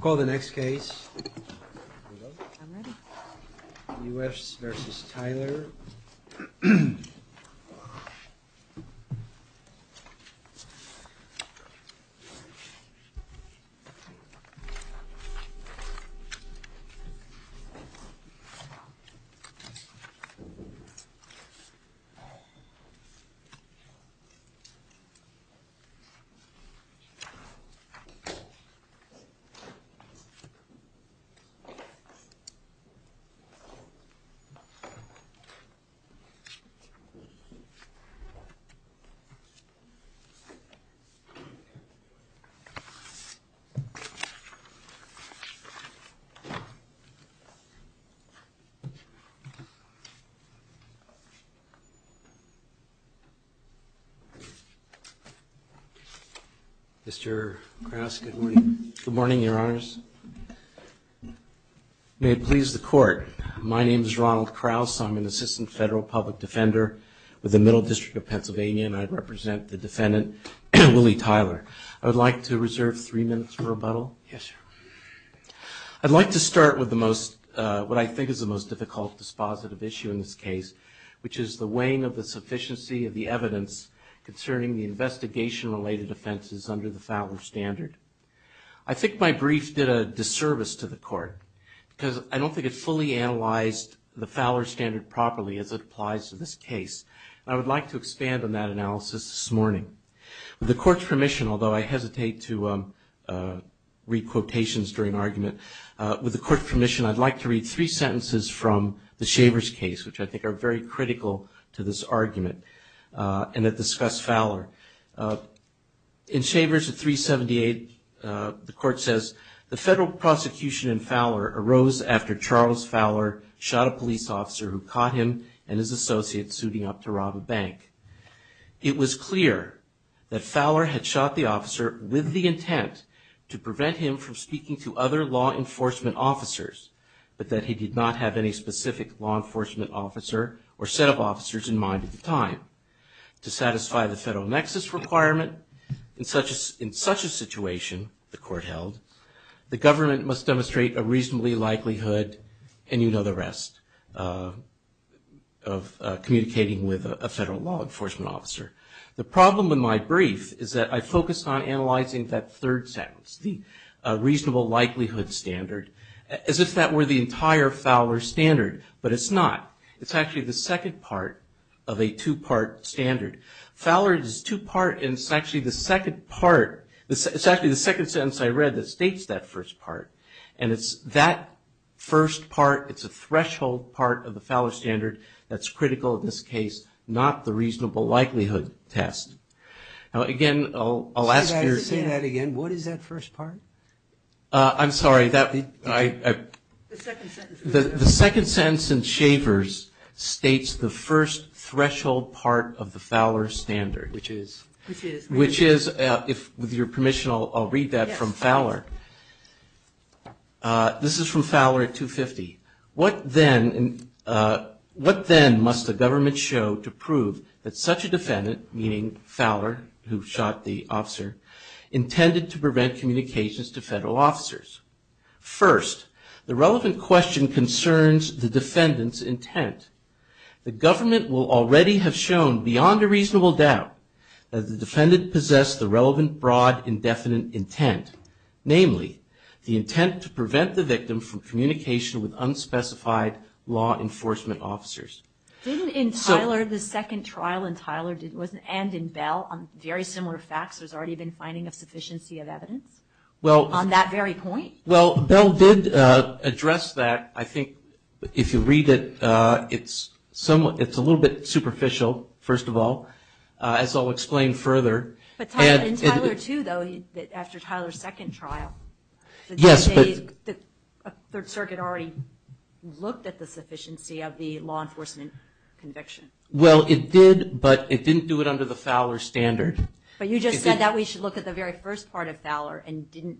Call the next case Good morning, your honors. May it please the court, my name is Ronald Kraus. I'm an assistant federal public defender with the Middle District of Pennsylvania and I represent the defendant Willie Tyler. I would like to reserve three minutes for rebuttal. Yes, sir. I'd like to start with the most, what I think is the most difficult dispositive issue in this case, which is the weighing of the sufficiency of the evidence concerning the investigation related offenses under the Fowler standard. I think my brief did a disservice to the court because I don't think it fully analyzed the Fowler standard properly as it applies to this case. I would like to expand on that analysis this morning. With the court's permission, although I hesitate to read quotations during argument, with the court's permission I'd like to read three sentences from the Shavers case which I think are very critical to this argument and that discuss Fowler. In Shavers at 378, the court says, The federal prosecution in Fowler arose after Charles Fowler shot a police officer who caught him and his associates suiting up to rob a bank. It was clear that Fowler had shot the officer with the intent to prevent him from speaking to other law enforcement officers, but that he did not have any specific law enforcement officer or set of officers in mind at the time. To satisfy the federal nexus requirement in such a situation, the court held, the government must demonstrate a reasonably likelihood, and you know the rest, of communicating with a federal law enforcement officer. The problem in my brief is that I focus on the entire Fowler standard, but it's not. It's actually the second part of a two-part standard. Fowler is two-part and it's actually the second part, it's actually the second sentence I read that states that first part. And it's that first part, it's a threshold part of the Fowler standard that's critical in this case, not the reasonable likelihood test. Now again, I'll ask your... The second sentence in Shavers states the first threshold part of the Fowler standard. Which is? Which is, with your permission, I'll read that from Fowler. This is from Fowler at 250. What then must the government show to prove that such a defendant, meaning Fowler, who shot the officer, intended to prevent communications to federal officers? First, the relevant question concerns the defendant's intent. The government will already have shown, beyond a reasonable doubt, that the defendant possessed the relevant, broad, indefinite intent. Namely, the intent to prevent the victim from communication with unspecified law enforcement officers. Didn't in Tyler, the second trial in Tyler, and in Bell, on very similar facts, there's already been finding of a sufficiency of evidence on that very point? Well, Bell did address that. I think if you read it, it's a little bit superficial, first of all, as I'll explain further. In Tyler too, though, after Tyler's second trial, the Third Circuit already looked at the sufficiency of the law enforcement conviction. Well, it did, but it didn't do it under the Fowler standard. But you just said that we should look at the very first part of Fowler, and didn't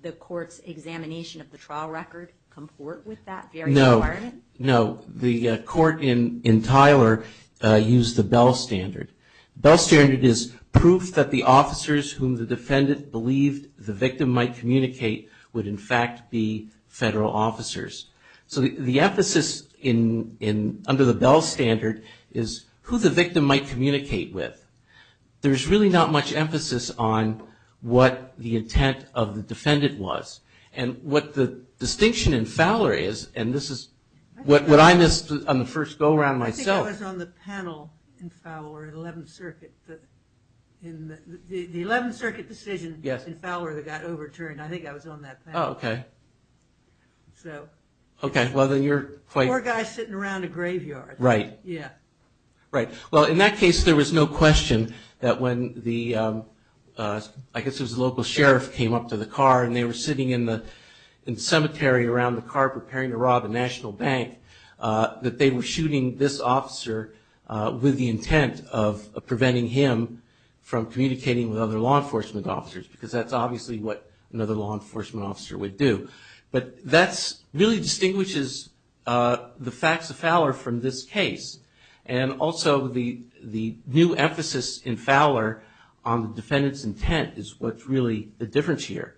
the court's examination of the trial record comport with that very requirement? No. The court in Tyler used the Bell standard. Bell standard is proof that the officers whom the defendant believed the victim might communicate would, in fact, be federal officers. So the emphasis under the Bell standard, is who the victim might communicate with. There's really not much emphasis on what the intent of the defendant was. And what the distinction in Fowler is, and this is what I missed on the first go-around myself. I think I was on the panel in Fowler, 11th Circuit. The 11th Circuit decision in Fowler that got overturned, I think I was on that panel. Oh, okay. Poor guy sitting around a graveyard. Well, in that case, there was no question that when the local sheriff came up to the car, and they were sitting in the cemetery around the car preparing to rob a national bank, that they were shooting this officer with the intent of preventing him from communicating with other law enforcement officers, because that's obviously what another law enforcement officer would do. But that really distinguishes the facts of Fowler from this case. And also the new emphasis in Fowler on the defendant's intent is what's really the difference here.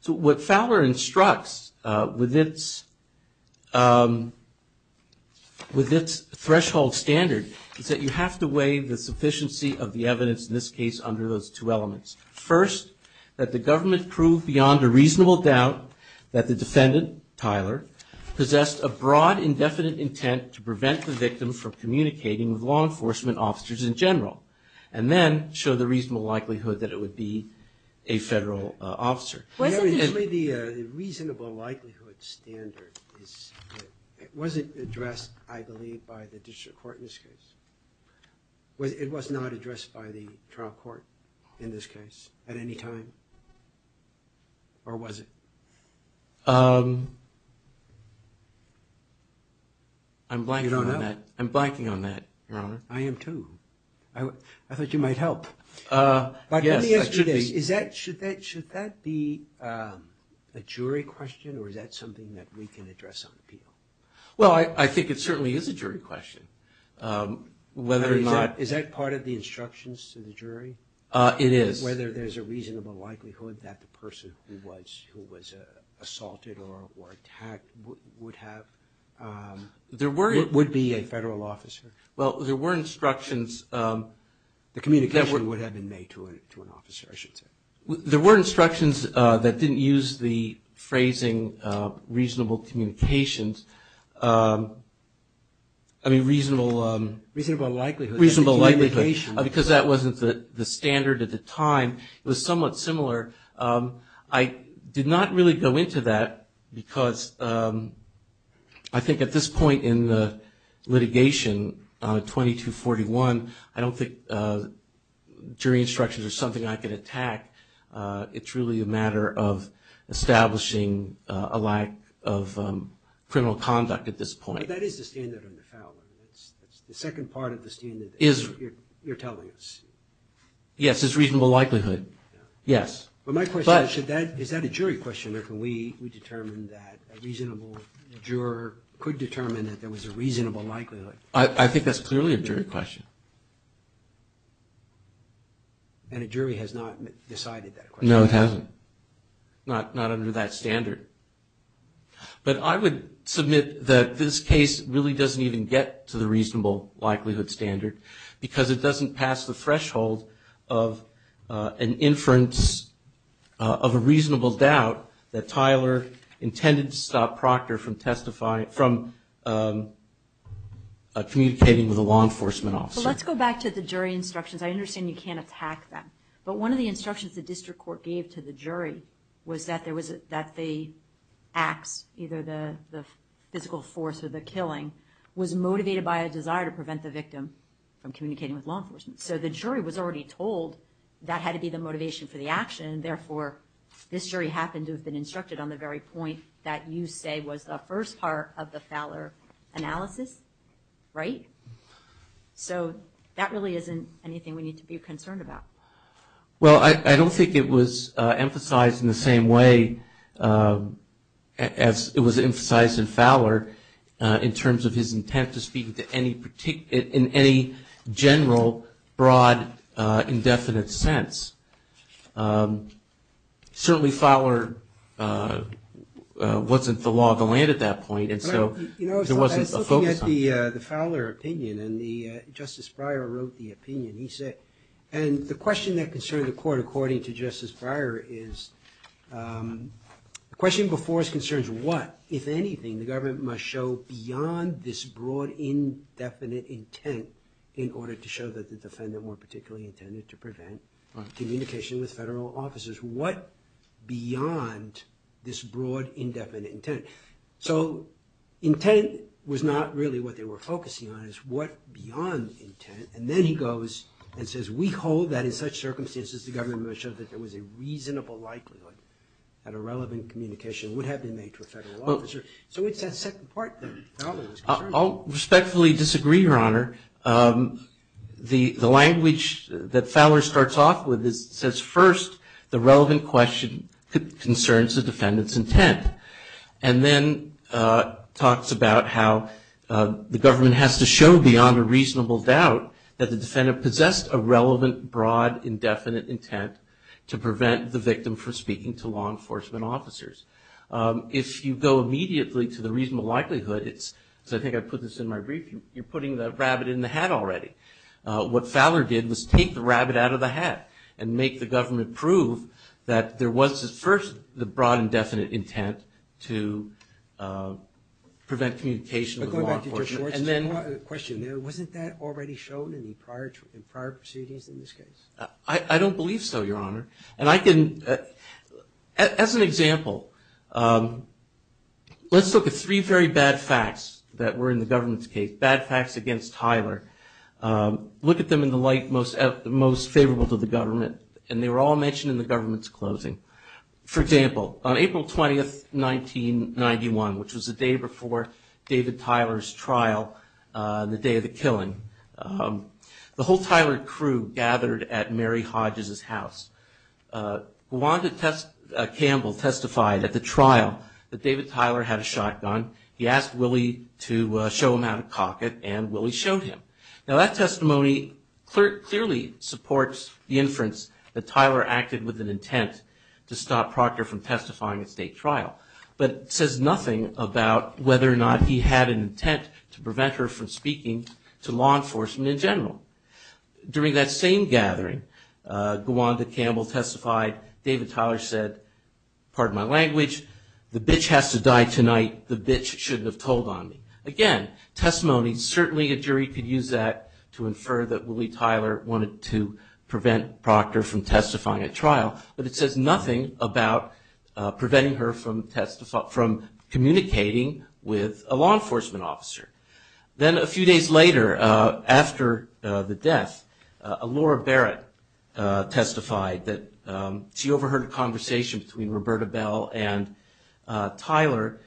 So what Fowler instructs with its threshold standard, is that you have to weigh the sufficiency of the evidence in this case under those two elements. First, that the government proved beyond a reasonable doubt that the defendant, Tyler, possessed a broad indefinite intent to prevent the victim from communicating with law enforcement officers in general. And then show the reasonable likelihood that it would be a federal officer. Was it addressed, I believe, by the district court in this case? It was not addressed by the trial court in this case at any time? Or was it? I'm blanking on that, Your Honor. I am too. I thought you might help. Should that be a jury question, or is that something that we can address on appeal? Well, I think it certainly is a jury question. Is that part of the instructions to the jury? It is. Whether there's a reasonable likelihood that the person who was assaulted or attacked would be a federal officer? Well, there were instructions... I mean, reasonable... Reasonable likelihood. Because that wasn't the standard at the time. It was somewhat similar. I did not really go into that because I think at this point in the litigation, 2241, I don't think jury instructions are something I could attack. It's really a matter of establishing a lack of criminal conduct at this point. But that is the standard on the felon. Yes, it's reasonable likelihood. Is that a jury question, or can we determine that a reasonable juror could determine that there was a reasonable likelihood? I think that's clearly a jury question. And a jury has not decided that question? No, it hasn't. Not under that standard. But I would submit that this case really doesn't even get to the reasonable likelihood standard because it doesn't pass the threshold of an inference of a reasonable doubt that Tyler intended to stop Proctor from communicating with a law enforcement officer. Let's go back to the jury instructions. I understand you can't attack them. But one of the instructions the district court gave to the jury was that the acts, either the physical force or the killing, was motivated by a desire to prevent the victim from communicating with law enforcement. So the jury was already told that had to be the motivation for the action, and therefore this jury happened to have been instructed on the very point that you say was the first part of the Fowler analysis, right? So that really isn't anything we need to be concerned about. Well, I don't think it was emphasized in the same way as it was emphasized in Fowler in terms of his intent to speak in any general, broad, indefinite sense. Certainly Fowler wasn't the law of the land at that point, and so there wasn't a focus on it. I was looking at the Fowler opinion, and Justice Breyer wrote the opinion. He said, and the question that concerned the court according to Justice Breyer is, the question before us concerns what, if anything, the government must show beyond this broad, indefinite intent in order to show that the defendant weren't particularly intended to prevent communication with federal officers. What beyond this broad, indefinite intent? So intent was not really what they were focusing on. It's what beyond intent, and then he goes and says, we hold that in such circumstances the government must show that there was a reasonable likelihood that a relevant communication would have been made to a federal officer. So it's that second part there. I'll respectfully disagree, Your Honor. The language that Fowler starts off with says, first, the relevant question concerns the defendant's intent, and then talks about how the government has to show beyond a reasonable doubt that the defendant possessed a relevant, broad, indefinite intent to prevent the victim from speaking to law enforcement officers. If you go immediately to the reasonable likelihood, so I think I put this in my brief, you're putting the rabbit in the hat already. What Fowler did was take the rabbit out of the hat and make the government prove that there was, first, the broad, indefinite intent to prevent communication with law enforcement. Wasn't that already shown in prior proceedings in this case? I don't believe so, Your Honor. As an example, let's look at three very bad facts that were in the government's case, bad facts against Tyler. Look at them in the light most favorable to the government, and they were all mentioned in the government's closing. For example, on April 20, 1991, which was the day before David Tyler's trial, the day of the killing, the whole Tyler crew gathered at Mary Hodges' house. Wanda Campbell testified at the trial that David Tyler had a shotgun. He asked Willie to show him how to cock it, and Willie showed him. Now that testimony clearly supports the inference that Tyler acted with an intent to stop Proctor from testifying at state trial, but it says nothing about whether or not he had an intent to prevent her from speaking to law enforcement in general. During that same gathering, Wanda Campbell testified, David Tyler said, pardon my language, the bitch has to die tonight, the bitch shouldn't have told on me. Again, testimony, certainly a jury could use that to infer that Willie Tyler wanted to prevent Proctor from testifying at trial, but it says nothing about preventing her from communicating with a law enforcement officer. Then a few days later, after the death, Laura Barrett testified that she overheard a conversation between Roberta Bell and Tyler,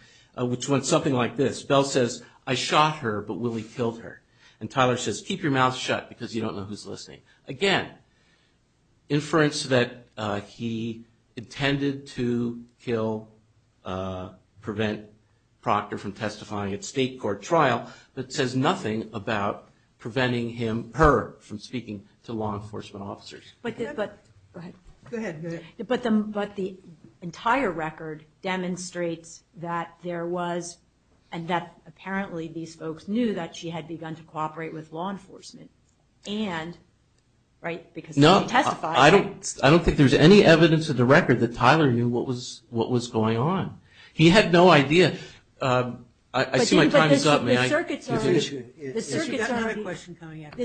and Tyler says keep your mouth shut because you don't know who's listening. Again, inference that he intended to kill, prevent Proctor from testifying at state court trial, but it says nothing about preventing her from speaking to law enforcement officers. But the entire record demonstrates that there was, and that apparently these folks knew that she had begun to cooperate with law enforcement. I don't think there's any evidence in the record that Tyler knew what was going on. He had no idea. The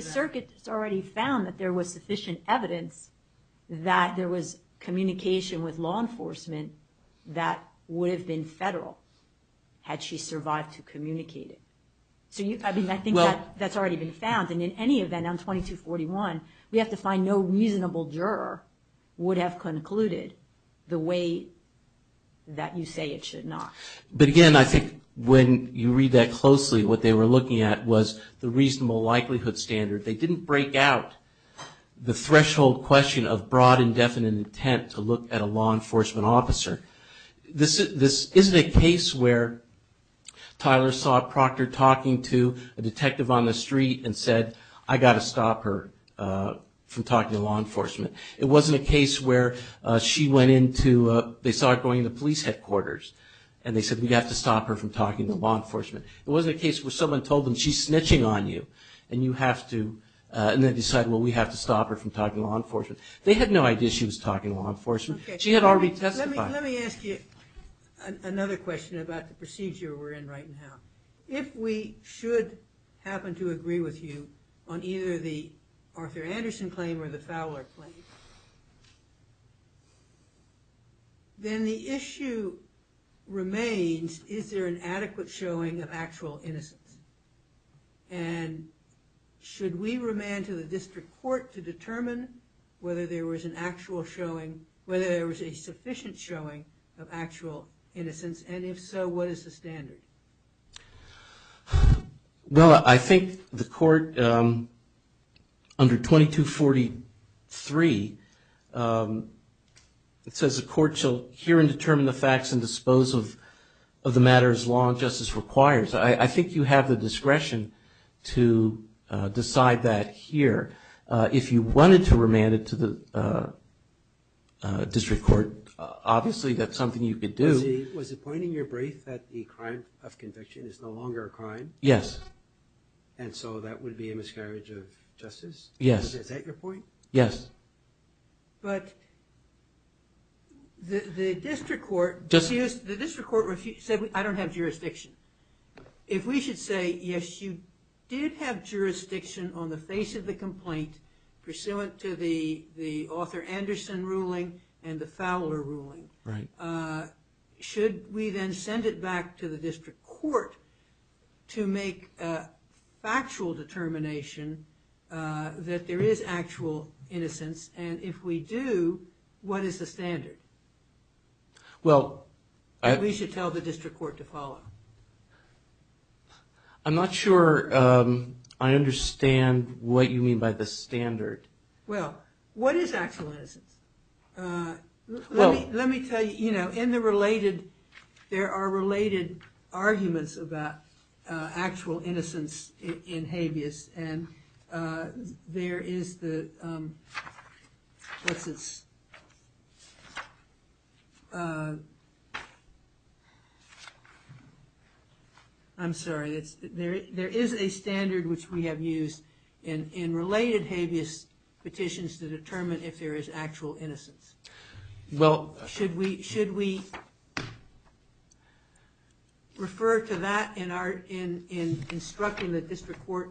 circuit has already found that there was sufficient evidence that there was communication with law enforcement that would have been federal had she survived to communicate it. I think that's already been found, and in any event on 2241, we have to find no reasonable juror would have concluded the way that you say it should not. But again, I think when you read that closely, what they were looking at was the threshold question of broad indefinite intent to look at a law enforcement officer. This isn't a case where Tyler saw Proctor talking to a detective on the street and said I've got to stop her from talking to law enforcement. It wasn't a case where she went into, they saw her going into police headquarters, and they said we've got to stop her from talking to law enforcement. It wasn't a case where someone told them she's snitching on you, and they decided well we have to stop her from talking to law enforcement. They had no idea she was talking to law enforcement. She had already testified. If we should happen to agree with you on either the Arthur Anderson claim or the Fowler claim, then the issue remains is there an adequate showing of actual innocence? And should we remand to the district court to determine whether there was an actual showing, whether there was a sufficient showing of actual innocence, and if so, what is the standard? Well, I think the court under 2243, it says the court shall hear and determine the facts and dispose of the matters law and justice requires. I think you have the discretion to decide that here. If you wanted to remand it to the district court, obviously that's something you could do. Yes. Yes. The district court said I don't have jurisdiction. If we should say yes, you did have jurisdiction on the face of the complaint pursuant to the Arthur Anderson ruling and the Fowler ruling, should we then send it back to the district court to make a factual determination that there is actual innocence, and if we do, what is the standard? We should tell the district court to follow. I'm not sure I understand what you mean by the standard. Well, what is actual innocence? There are related arguments about actual innocence in habeas, and there is the... I'm sorry, there is a standard which we have used in related habeas petitions to determine if there is actual innocence. Should we refer to that in instructing the district court?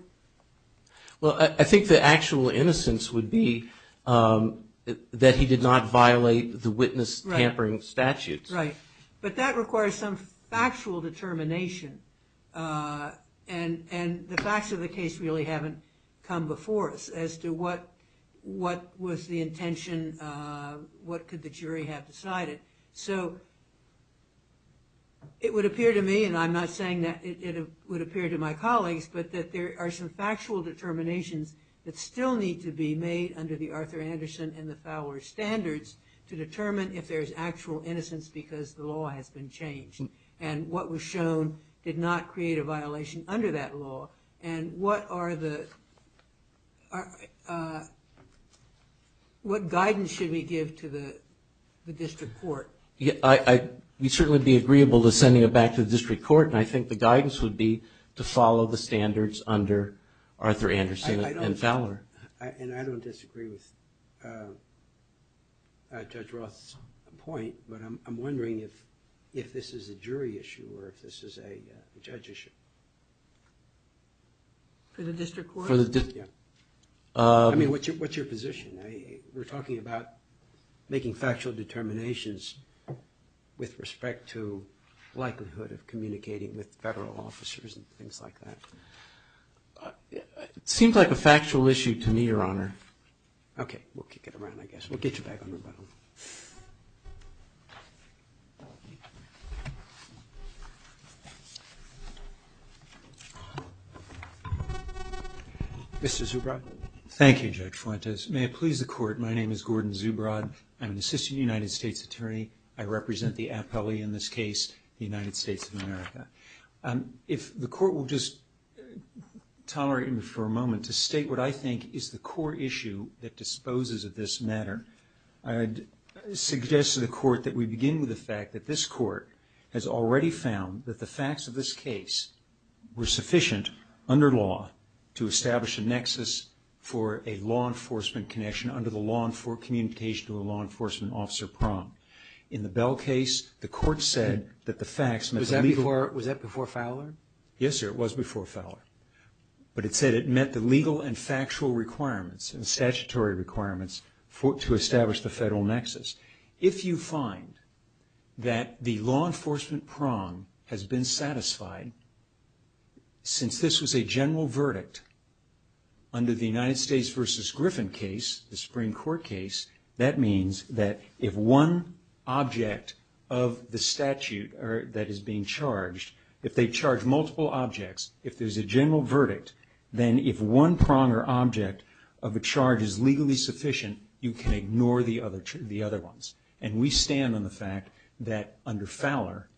Well, I think the actual innocence would be that he did not violate the witness tampering statutes. But that requires some factual determination, and the facts of the case really haven't come before us as to what was the intention, what could the jury have decided. It would appear to me, and I'm not saying that it would appear to my colleagues, but that there are some factual determinations that still need to be made under the Arthur Anderson and the Fowler standards to determine if there is actual innocence because the law has been changed, and what was shown did not create a violation under that law, and what are the... What guidance should we give to the district court? We'd certainly be agreeable to sending it back to the district court, and I think the guidance would be to follow the standards under Arthur Anderson and Fowler. And I don't disagree with Judge Roth's point, but I'm wondering if this is a jury issue or if this is a judge issue. For the district court? I mean, what's your position? We're talking about making factual determinations with respect to likelihood of communicating with federal officers and things like that. It seems like a factual issue to me, Your Honor. Okay, we'll kick it around, I guess. We'll get you back on rebuttal. Mr. Zubrod? Thank you, Judge Fuentes. May it please the Court, my name is Gordon Zubrod. I'm an assistant United States attorney. I represent the appellee in this case, the United States of America. If the Court will just tolerate me for a moment to state what I think is the core issue that disposes of this matter, I'd suggest to the Court that we begin with the fact that this Court has already found that the facts of this case were sufficient under law to establish a nexus for a law enforcement connection under the law enforcement communication to a law enforcement officer prong. In the Bell case, the Court said that the facts met the legal... Was that before Fowler? Yes, sir, it was before Fowler. But it said it met the legal and factual requirements and statutory requirements to establish the federal nexus. If you find that the law enforcement prong has been satisfied, since this was a general verdict under the United States v. Griffin case, the Supreme Court case, that means that if one object of the statute that is being charged, if they charge multiple objects, if there's a general verdict, then if one prong or object of a charge is legally sufficient, you can ignore the other ones. And we stand on the fact that under Fowler,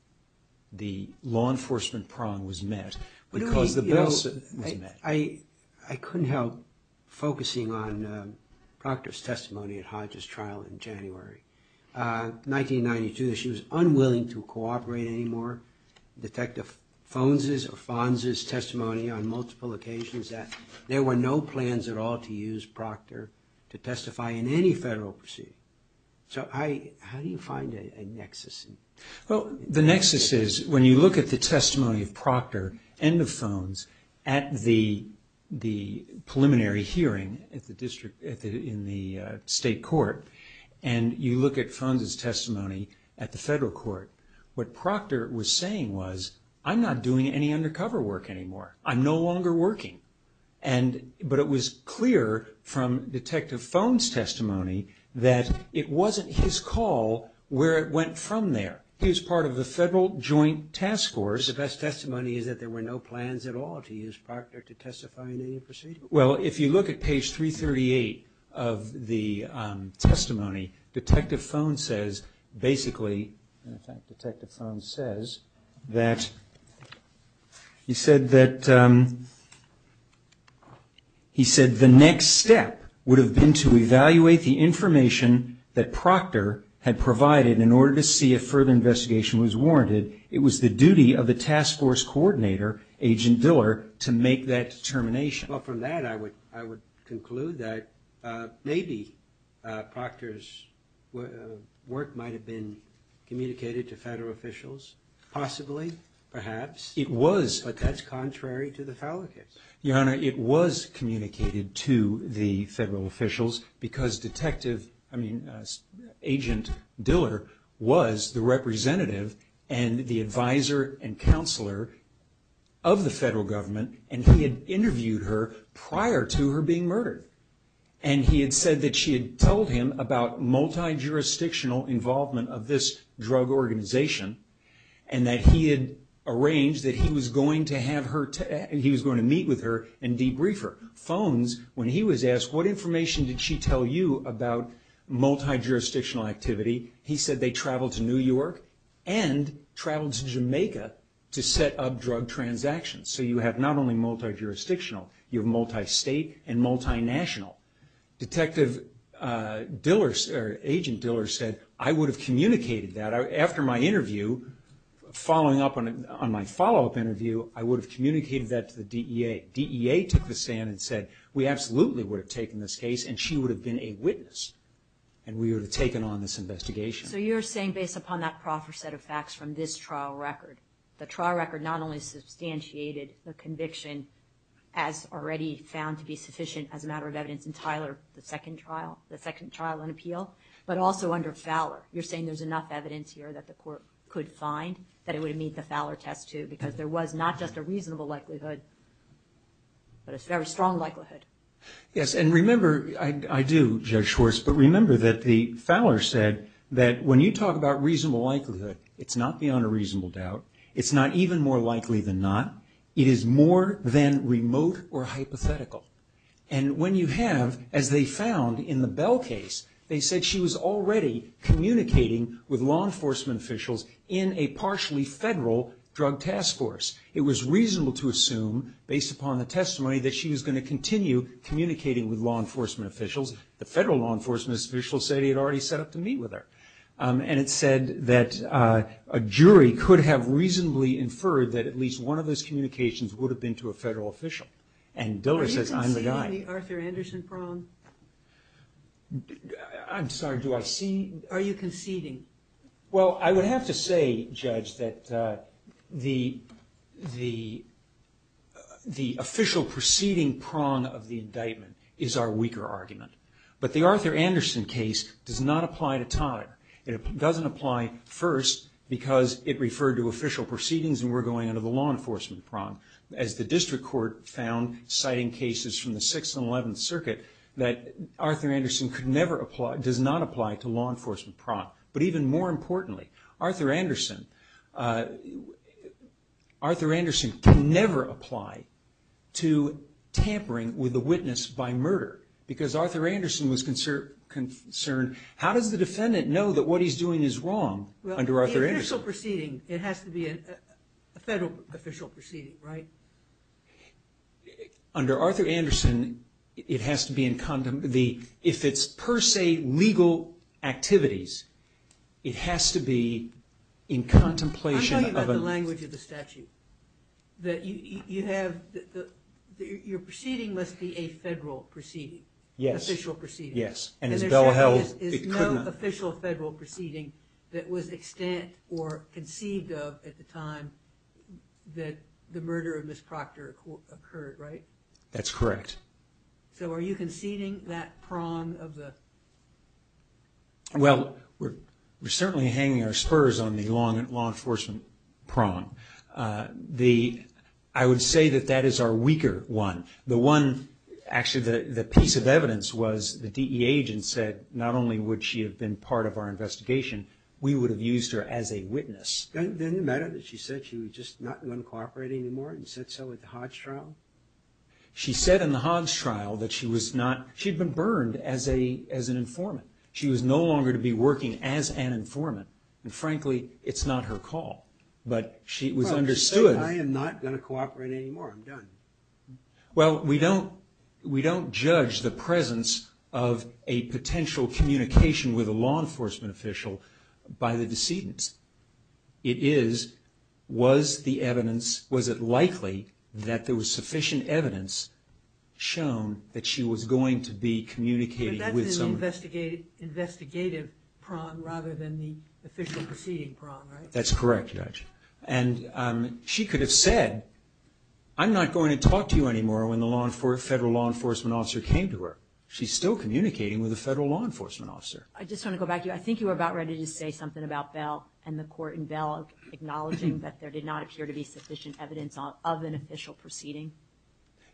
the law enforcement prong was met because the Bell was met. I couldn't help focusing on Proctor's testimony at Hodge's trial in January 1992. She was unwilling to cooperate anymore. I've heard Detective Fonz's or Fonz's testimony on multiple occasions that there were no plans at all to use Proctor to testify in any federal proceeding. So how do you find a nexus? Well, the nexus is when you look at the testimony of Proctor and of Fonz at the preliminary hearing in the state court, and you look at Fonz's testimony at the federal court, what Proctor was saying was, I'm not doing any undercover work anymore. I'm no longer working. But it was clear from Detective Fonz's testimony that it wasn't his call where it went from there. He was part of the federal joint task force. So the best testimony is that there were no plans at all to use Proctor to testify in any proceeding? Well, if you look at page 338 of the testimony, Detective Fonz says basically, in fact, Detective Fonz says that he said the next step would have been to evaluate the information that Proctor had provided in order to see if further investigation was warranted. It was the duty of the task force coordinator, Agent Diller, to make that determination. Well, from that, I would conclude that maybe Proctor's work might have been communicated to federal officials, possibly, perhaps. But that's contrary to the Fowler case. Your Honor, it was communicated to the federal officials because Agent Diller was the representative and the advisor and counselor of the federal government, and he had interviewed her prior to her being murdered. And he had said that she had told him about multi-jurisdictional involvement of this drug organization and that he had arranged that he was going to meet with her and debrief her. Fonz, when he was asked, what information did she tell you about multi-jurisdictional activity, he said they traveled to New York and traveled to Jamaica to set up drug transactions. So you have not only multi-jurisdictional, you have multi-state and multi-national. Detective Diller, or Agent Diller, said, I would have communicated that. After my interview, following up on my follow-up interview, I would have communicated that to the DEA. DEA took the stand and said, we absolutely would have taken this case and she would have been a witness and we would have taken on this investigation. So you're saying, based upon that proper set of facts from this trial record, the trial record not only substantiated the conviction as already found to be sufficient as a matter of evidence in Tyler, the second trial, the second trial in appeal, but also under Fowler. You're saying there's enough evidence here that the court could find that it would meet the Fowler test too, because there was not just a reasonable likelihood, but a very strong likelihood. Yes, and remember, I do, Judge Schwartz, but remember that the Fowler said that when you talk about reasonable likelihood, it's not beyond a reasonable doubt. It's not even more likely than not. It is more than remote or hypothetical. And when you have, as they found in the Bell case, they said she was already communicating with law enforcement officials in a partially federal drug task force. It was reasonable to assume, based upon the testimony, that she was going to continue communicating with law enforcement officials. The federal law enforcement officials said he had already set up to meet with her. And it said that a jury could have reasonably inferred that at least one of those communications would have been to a federal official. And Diller says, I'm the guy. Are you conceding the Arthur Anderson prong? I'm sorry, do I see? Are you conceding? Well, I would have to say, Judge, that the official proceeding prong of the indictment is our weaker argument. But the Arthur Anderson case does not apply to Todd. It doesn't apply first because it referred to official proceedings, and we're going into the law enforcement prong. As the district court found, citing cases from the 6th and 11th Circuit, that Arthur Anderson could never apply, does not apply to law enforcement prong. But even more importantly, Arthur Anderson can never apply to tampering with a witness by murder. Because Arthur Anderson was concerned, how does the defendant know that what he's doing is wrong under Arthur Anderson? Well, the official proceeding, it has to be a federal official proceeding, right? Under Arthur Anderson, if it's per se legal activities, it has to be in contemplation of... I'm talking about the language of the statute. Your proceeding must be a federal proceeding. Yes. Official proceeding. Yes. And there's no official federal proceeding that was extant or conceived of at the time that the murder of Ms. Proctor occurred, right? That's correct. So are you conceding that prong of the... Well, we're certainly hanging our spurs on the law enforcement prong. I would say that that is our weaker one. Actually, the piece of evidence was the DEA agent said not only would she have been part of our investigation, we would have used her as a witness. Didn't it matter that she said she was just not going to cooperate anymore and said so at the Hodge trial? She said in the Hodge trial that she had been burned as an informant. She was no longer to be working as an informant. And frankly, it's not her call. But it was understood... I'm done. Well, we don't judge the presence of a potential communication with a law enforcement official by the decedents. It is was the evidence, was it likely that there was sufficient evidence shown that she was going to be communicating with someone. But that's an investigative prong rather than the official proceeding prong, right? That's correct, Judge. And she could have said, I'm not going to talk to you anymore when the federal law enforcement officer came to her. She's still communicating with a federal law enforcement officer. I just want to go back to you. I think you were about ready to say something about Bell and the court in Bell acknowledging that there did not appear to be sufficient evidence of an official proceeding.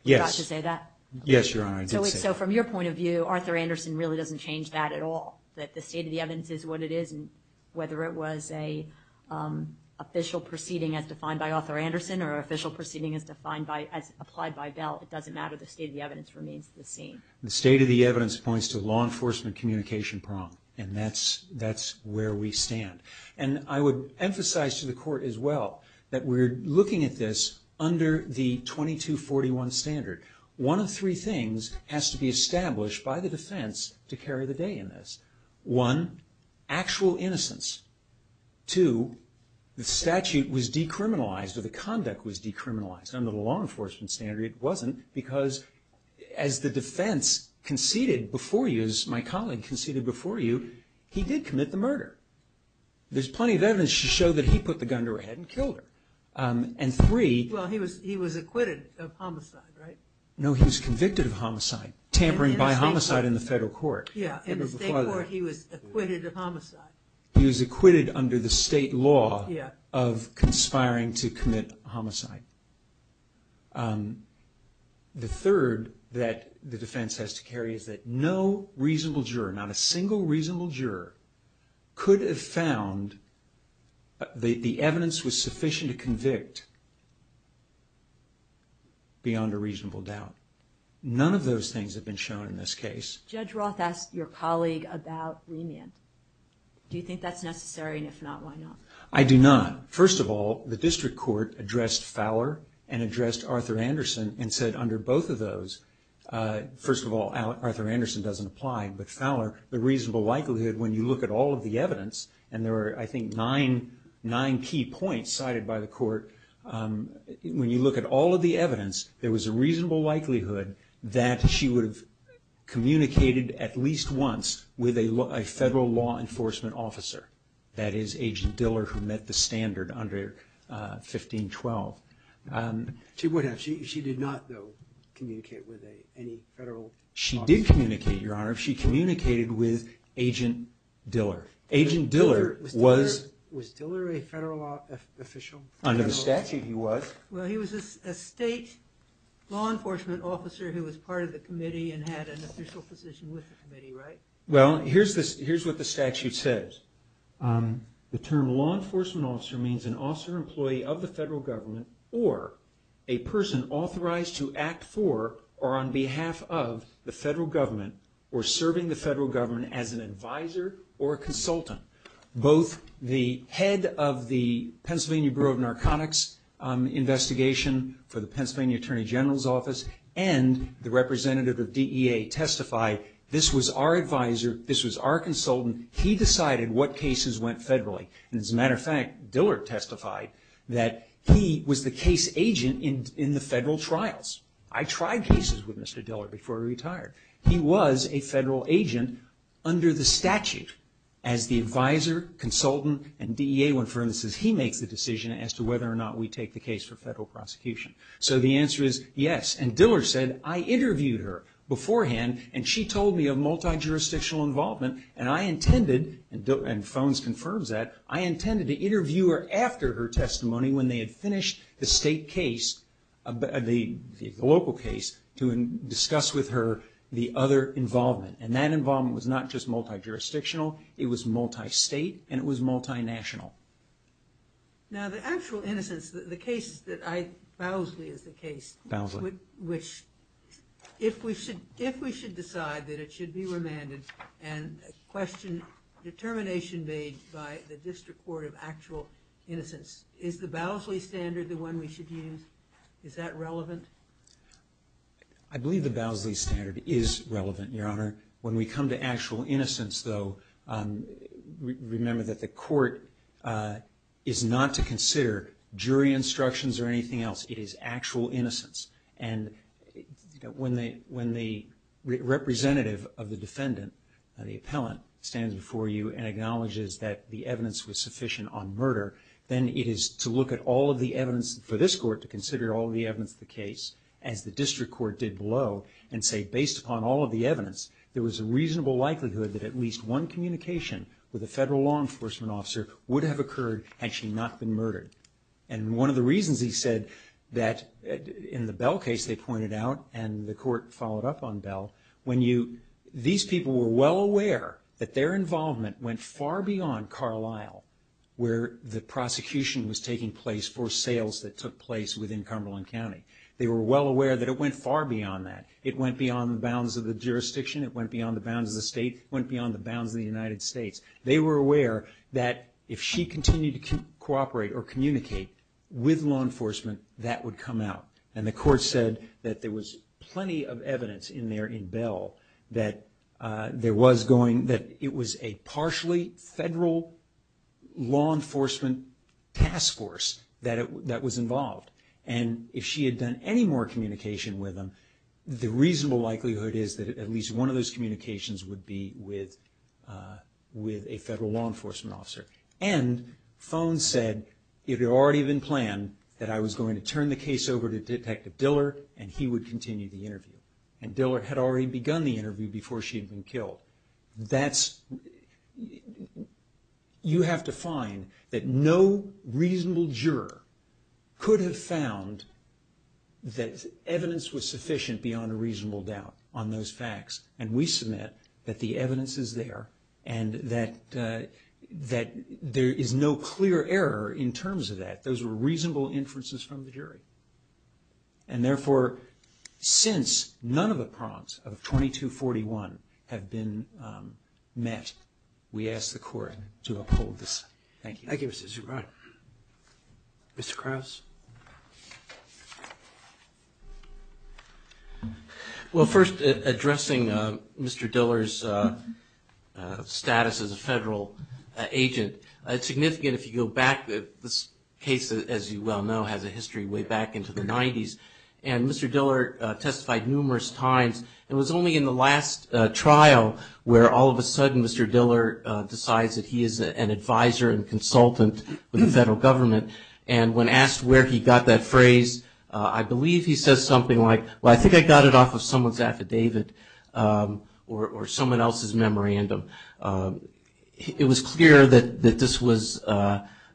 Yes. Did you say that? Yes, Your Honor, I did say that. So from your point of view, Arthur Anderson really doesn't change that at all, that the state of the evidence is what it is. And whether it was an official proceeding as defined by Arthur Anderson or an official proceeding as applied by Bell, it doesn't matter. The state of the evidence remains the same. The state of the evidence points to the law enforcement communication prong. And that's where we stand. And I would emphasize to the court as well that we're looking at this under the 2241 standard. One of three things has to be established by the defense to carry the day in this. One, actual innocence. Two, the statute was decriminalized or the conduct was decriminalized. Under the law enforcement standard, it wasn't because as the defense conceded before you, as my colleague conceded before you, he did commit the murder. There's plenty of evidence to show that he put the gun to her head and killed her. And three. Well, he was acquitted of homicide, right? No, he was convicted of homicide, tampering by homicide in the federal court. Yeah, in the state court he was acquitted of homicide. He was acquitted under the state law of conspiring to commit homicide. The third that the defense has to carry is that no reasonable juror, not a single reasonable juror, could have found that the evidence was sufficient to convict beyond a reasonable doubt. None of those things have been shown in this case. Judge Roth asked your colleague about remand. Do you think that's necessary? And if not, why not? I do not. First of all, the district court addressed Fowler and addressed Arthur Anderson and said under both of those, first of all, Arthur Anderson doesn't apply, but Fowler, the reasonable likelihood, when you look at all of the evidence, and there were, I think, nine key points cited by the court, when you look at all of the evidence, there was a reasonable likelihood that she would have communicated at least once with a federal law enforcement officer, that is, Agent Diller, who met the standard under 1512. She would have. She did not, though, communicate with any federal officer. She did communicate, Your Honor. She communicated with Agent Diller. Agent Diller was... Was Diller a federal official? Under the statute, he was. Well, he was a state law enforcement officer who was part of the committee and had an official position with the committee, right? Well, here's what the statute says. The term law enforcement officer means an officer employee of the federal government or a person authorized to act for or on behalf of the federal government or serving the federal government as an advisor or a consultant. Both the head of the Pennsylvania Bureau of Narcotics investigation for the Pennsylvania Attorney General's Office and the representative of DEA testify, this was our advisor, this was our consultant. He decided what cases went federally. As a matter of fact, Diller testified that he was the case agent in the federal trials. I tried cases with Mr. Diller before he retired. He was a federal agent under the statute as the advisor, consultant, and DEA, when, for instance, he makes the decision as to whether or not we take the case for federal prosecution. So the answer is yes. And Diller said, I interviewed her beforehand, and she told me of multi-jurisdictional involvement, and I intended, and Phones confirms that, I intended to interview her after her testimony when they had finished the state case, the local case, to discuss with her the other involvement. And that involvement was not just multi-jurisdictional. It was multi-state, and it was multi-national. Now, the actual innocence, the case that I, Bowsley is the case. Bowsley. Which, if we should decide that it should be remanded, and question determination made by the District Court of actual innocence, is the Bowsley standard the one we should use? Is that relevant? I believe the Bowsley standard is relevant, Your Honor. When we come to actual innocence, though, remember that the court is not to consider jury instructions or anything else. It is actual innocence. And when the representative of the defendant, the appellant, stands before you and acknowledges that the evidence was sufficient on murder, then it is to look at all of the evidence for this court to consider all of the evidence of the case, as the District Court did below, and say, based upon all of the evidence, there was a reasonable likelihood that at least one communication with a federal law enforcement officer would have occurred had she not been murdered. And one of the reasons he said that in the Bell case, they pointed out, and the court followed up on Bell, when you, these people were well aware that their involvement went far beyond Carlisle, where the prosecution was taking place for sales that took place within Cumberland County. They were well aware that it went far beyond that. It went beyond the bounds of the jurisdiction. It went beyond the bounds of the state. It went beyond the bounds of the United States. They were aware that if she continued to cooperate or communicate with law enforcement, that would come out. And the court said that there was plenty of evidence in there in Bell that there was going, that it was a partially federal law enforcement task force that was involved. And if she had done any more communication with them, the reasonable likelihood is that at least one of those communications would be with a federal law enforcement officer. And Fone said, it had already been planned that I was going to turn the case over to Detective Diller and he would continue the interview. And Diller had already begun the interview before she had been killed. That's, you have to find that no reasonable juror could have found that evidence was sufficient beyond a reasonable doubt on those facts. And we submit that the evidence is there and that there is no clear error in terms of that. Those were reasonable inferences from the jury. And therefore, since none of the prongs of 2241 have been met, we ask the court to uphold this. Thank you. Thank you, Mr. Zubrod. Mr. Krauss. Well, first, addressing Mr. Diller's status as a federal agent, it's significant if you go back, this case, as you well know, has a history way back into the 90s. And Mr. Diller testified numerous times. It was only in the last trial where all of a sudden Mr. Diller decides that he is an advisor and consultant with the federal government. And when asked where he got that phrase, I believe he says something like, well, I think I got it off of someone's affidavit or someone else's memorandum. It was clear that this was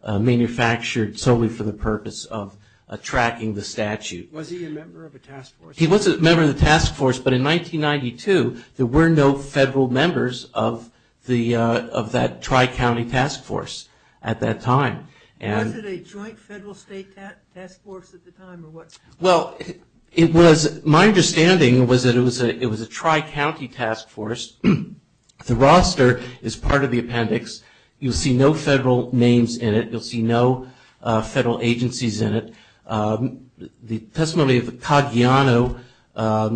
manufactured solely for the purpose of tracking the statute. Was he a member of a task force? He was a member of the task force. But in 1992, there were no federal members of that tri-county task force at that time. Was it a joint federal state task force at the time or what? Well, my understanding was that it was a tri-county task force. The roster is part of the appendix. You'll see no federal names in it. You'll see no federal agencies in it. The testimony of Cagliano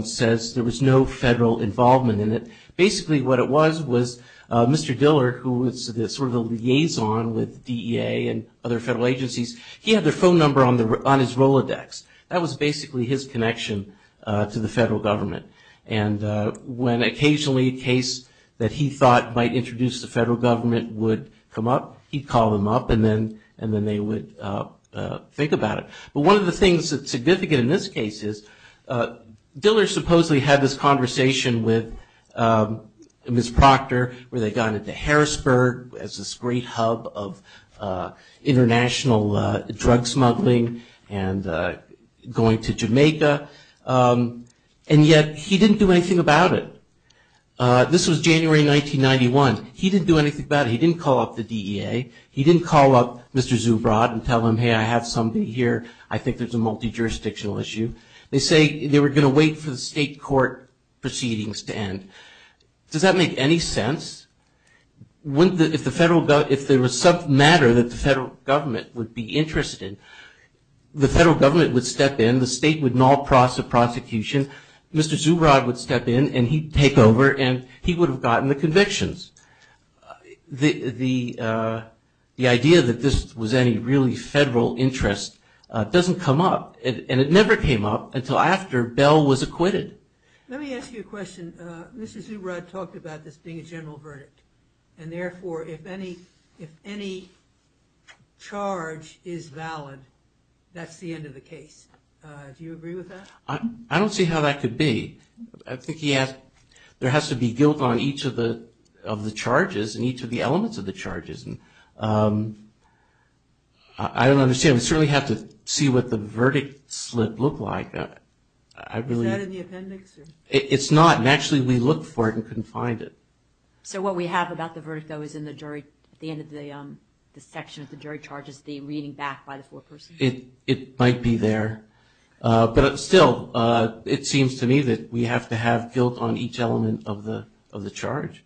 says there was no federal involvement in it. Basically what it was was Mr. Diller, who was sort of the liaison with DEA and other federal agencies, he had their phone number on his Rolodex. That was basically his connection to the federal government. And when occasionally a case that he thought might introduce the federal government would come up, he'd call them up and then they would think about it. But one of the things that's significant in this case is Diller supposedly had this conversation with Ms. Proctor, where they got into Harrisburg as this great hub of international drug smuggling and going to Jamaica. And yet he didn't do anything about it. This was January 1991. He didn't do anything about it. He didn't call up the DEA. He didn't call up Mr. Zubrod and tell him, hey, I have somebody here. I think there's a multi-jurisdictional issue. They say they were going to wait for the state court proceedings to end. Does that make any sense? If there was some matter that the federal government would be interested in, the federal government would step in, the state would null the prosecution, Mr. Zubrod would step in and he'd take over and he would have gotten the convictions. The idea that this was any really federal interest doesn't come up, and it never came up until after Bell was acquitted. Let me ask you a question. Mr. Zubrod talked about this being a general verdict, and therefore if any charge is valid, that's the end of the case. Do you agree with that? I don't see how that could be. I think there has to be guilt on each of the charges and each of the elements of the charges. I don't understand. We certainly have to see what the verdict slip looked like. Is that in the appendix? It's not, and actually we looked for it and couldn't find it. So what we have about the verdict, though, is in the section of the jury charges, the reading back by the foreperson. It might be there. But still, it seems to me that we have to have guilt on each element of the charge.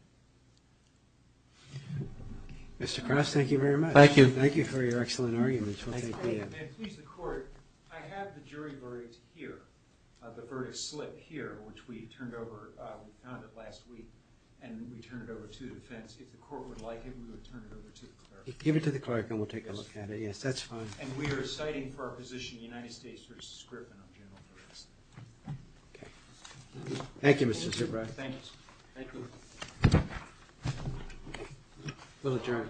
Mr. Cross, thank you very much. Thank you. Thank you for your excellent arguments. Thank you. And please, the Court, I have the jury verdict here, the verdict slip here, which we turned over, we found it last week, and we turned it over to the defense. If the Court would like it, we would turn it over to the clerk. Give it to the clerk and we'll take a look at it. Yes, that's fine. And we are citing for our position, United States v. Scrippin, on general arrest. Okay. Thank you, Mr. Zubrow. Thank you. Thank you. We'll adjourn.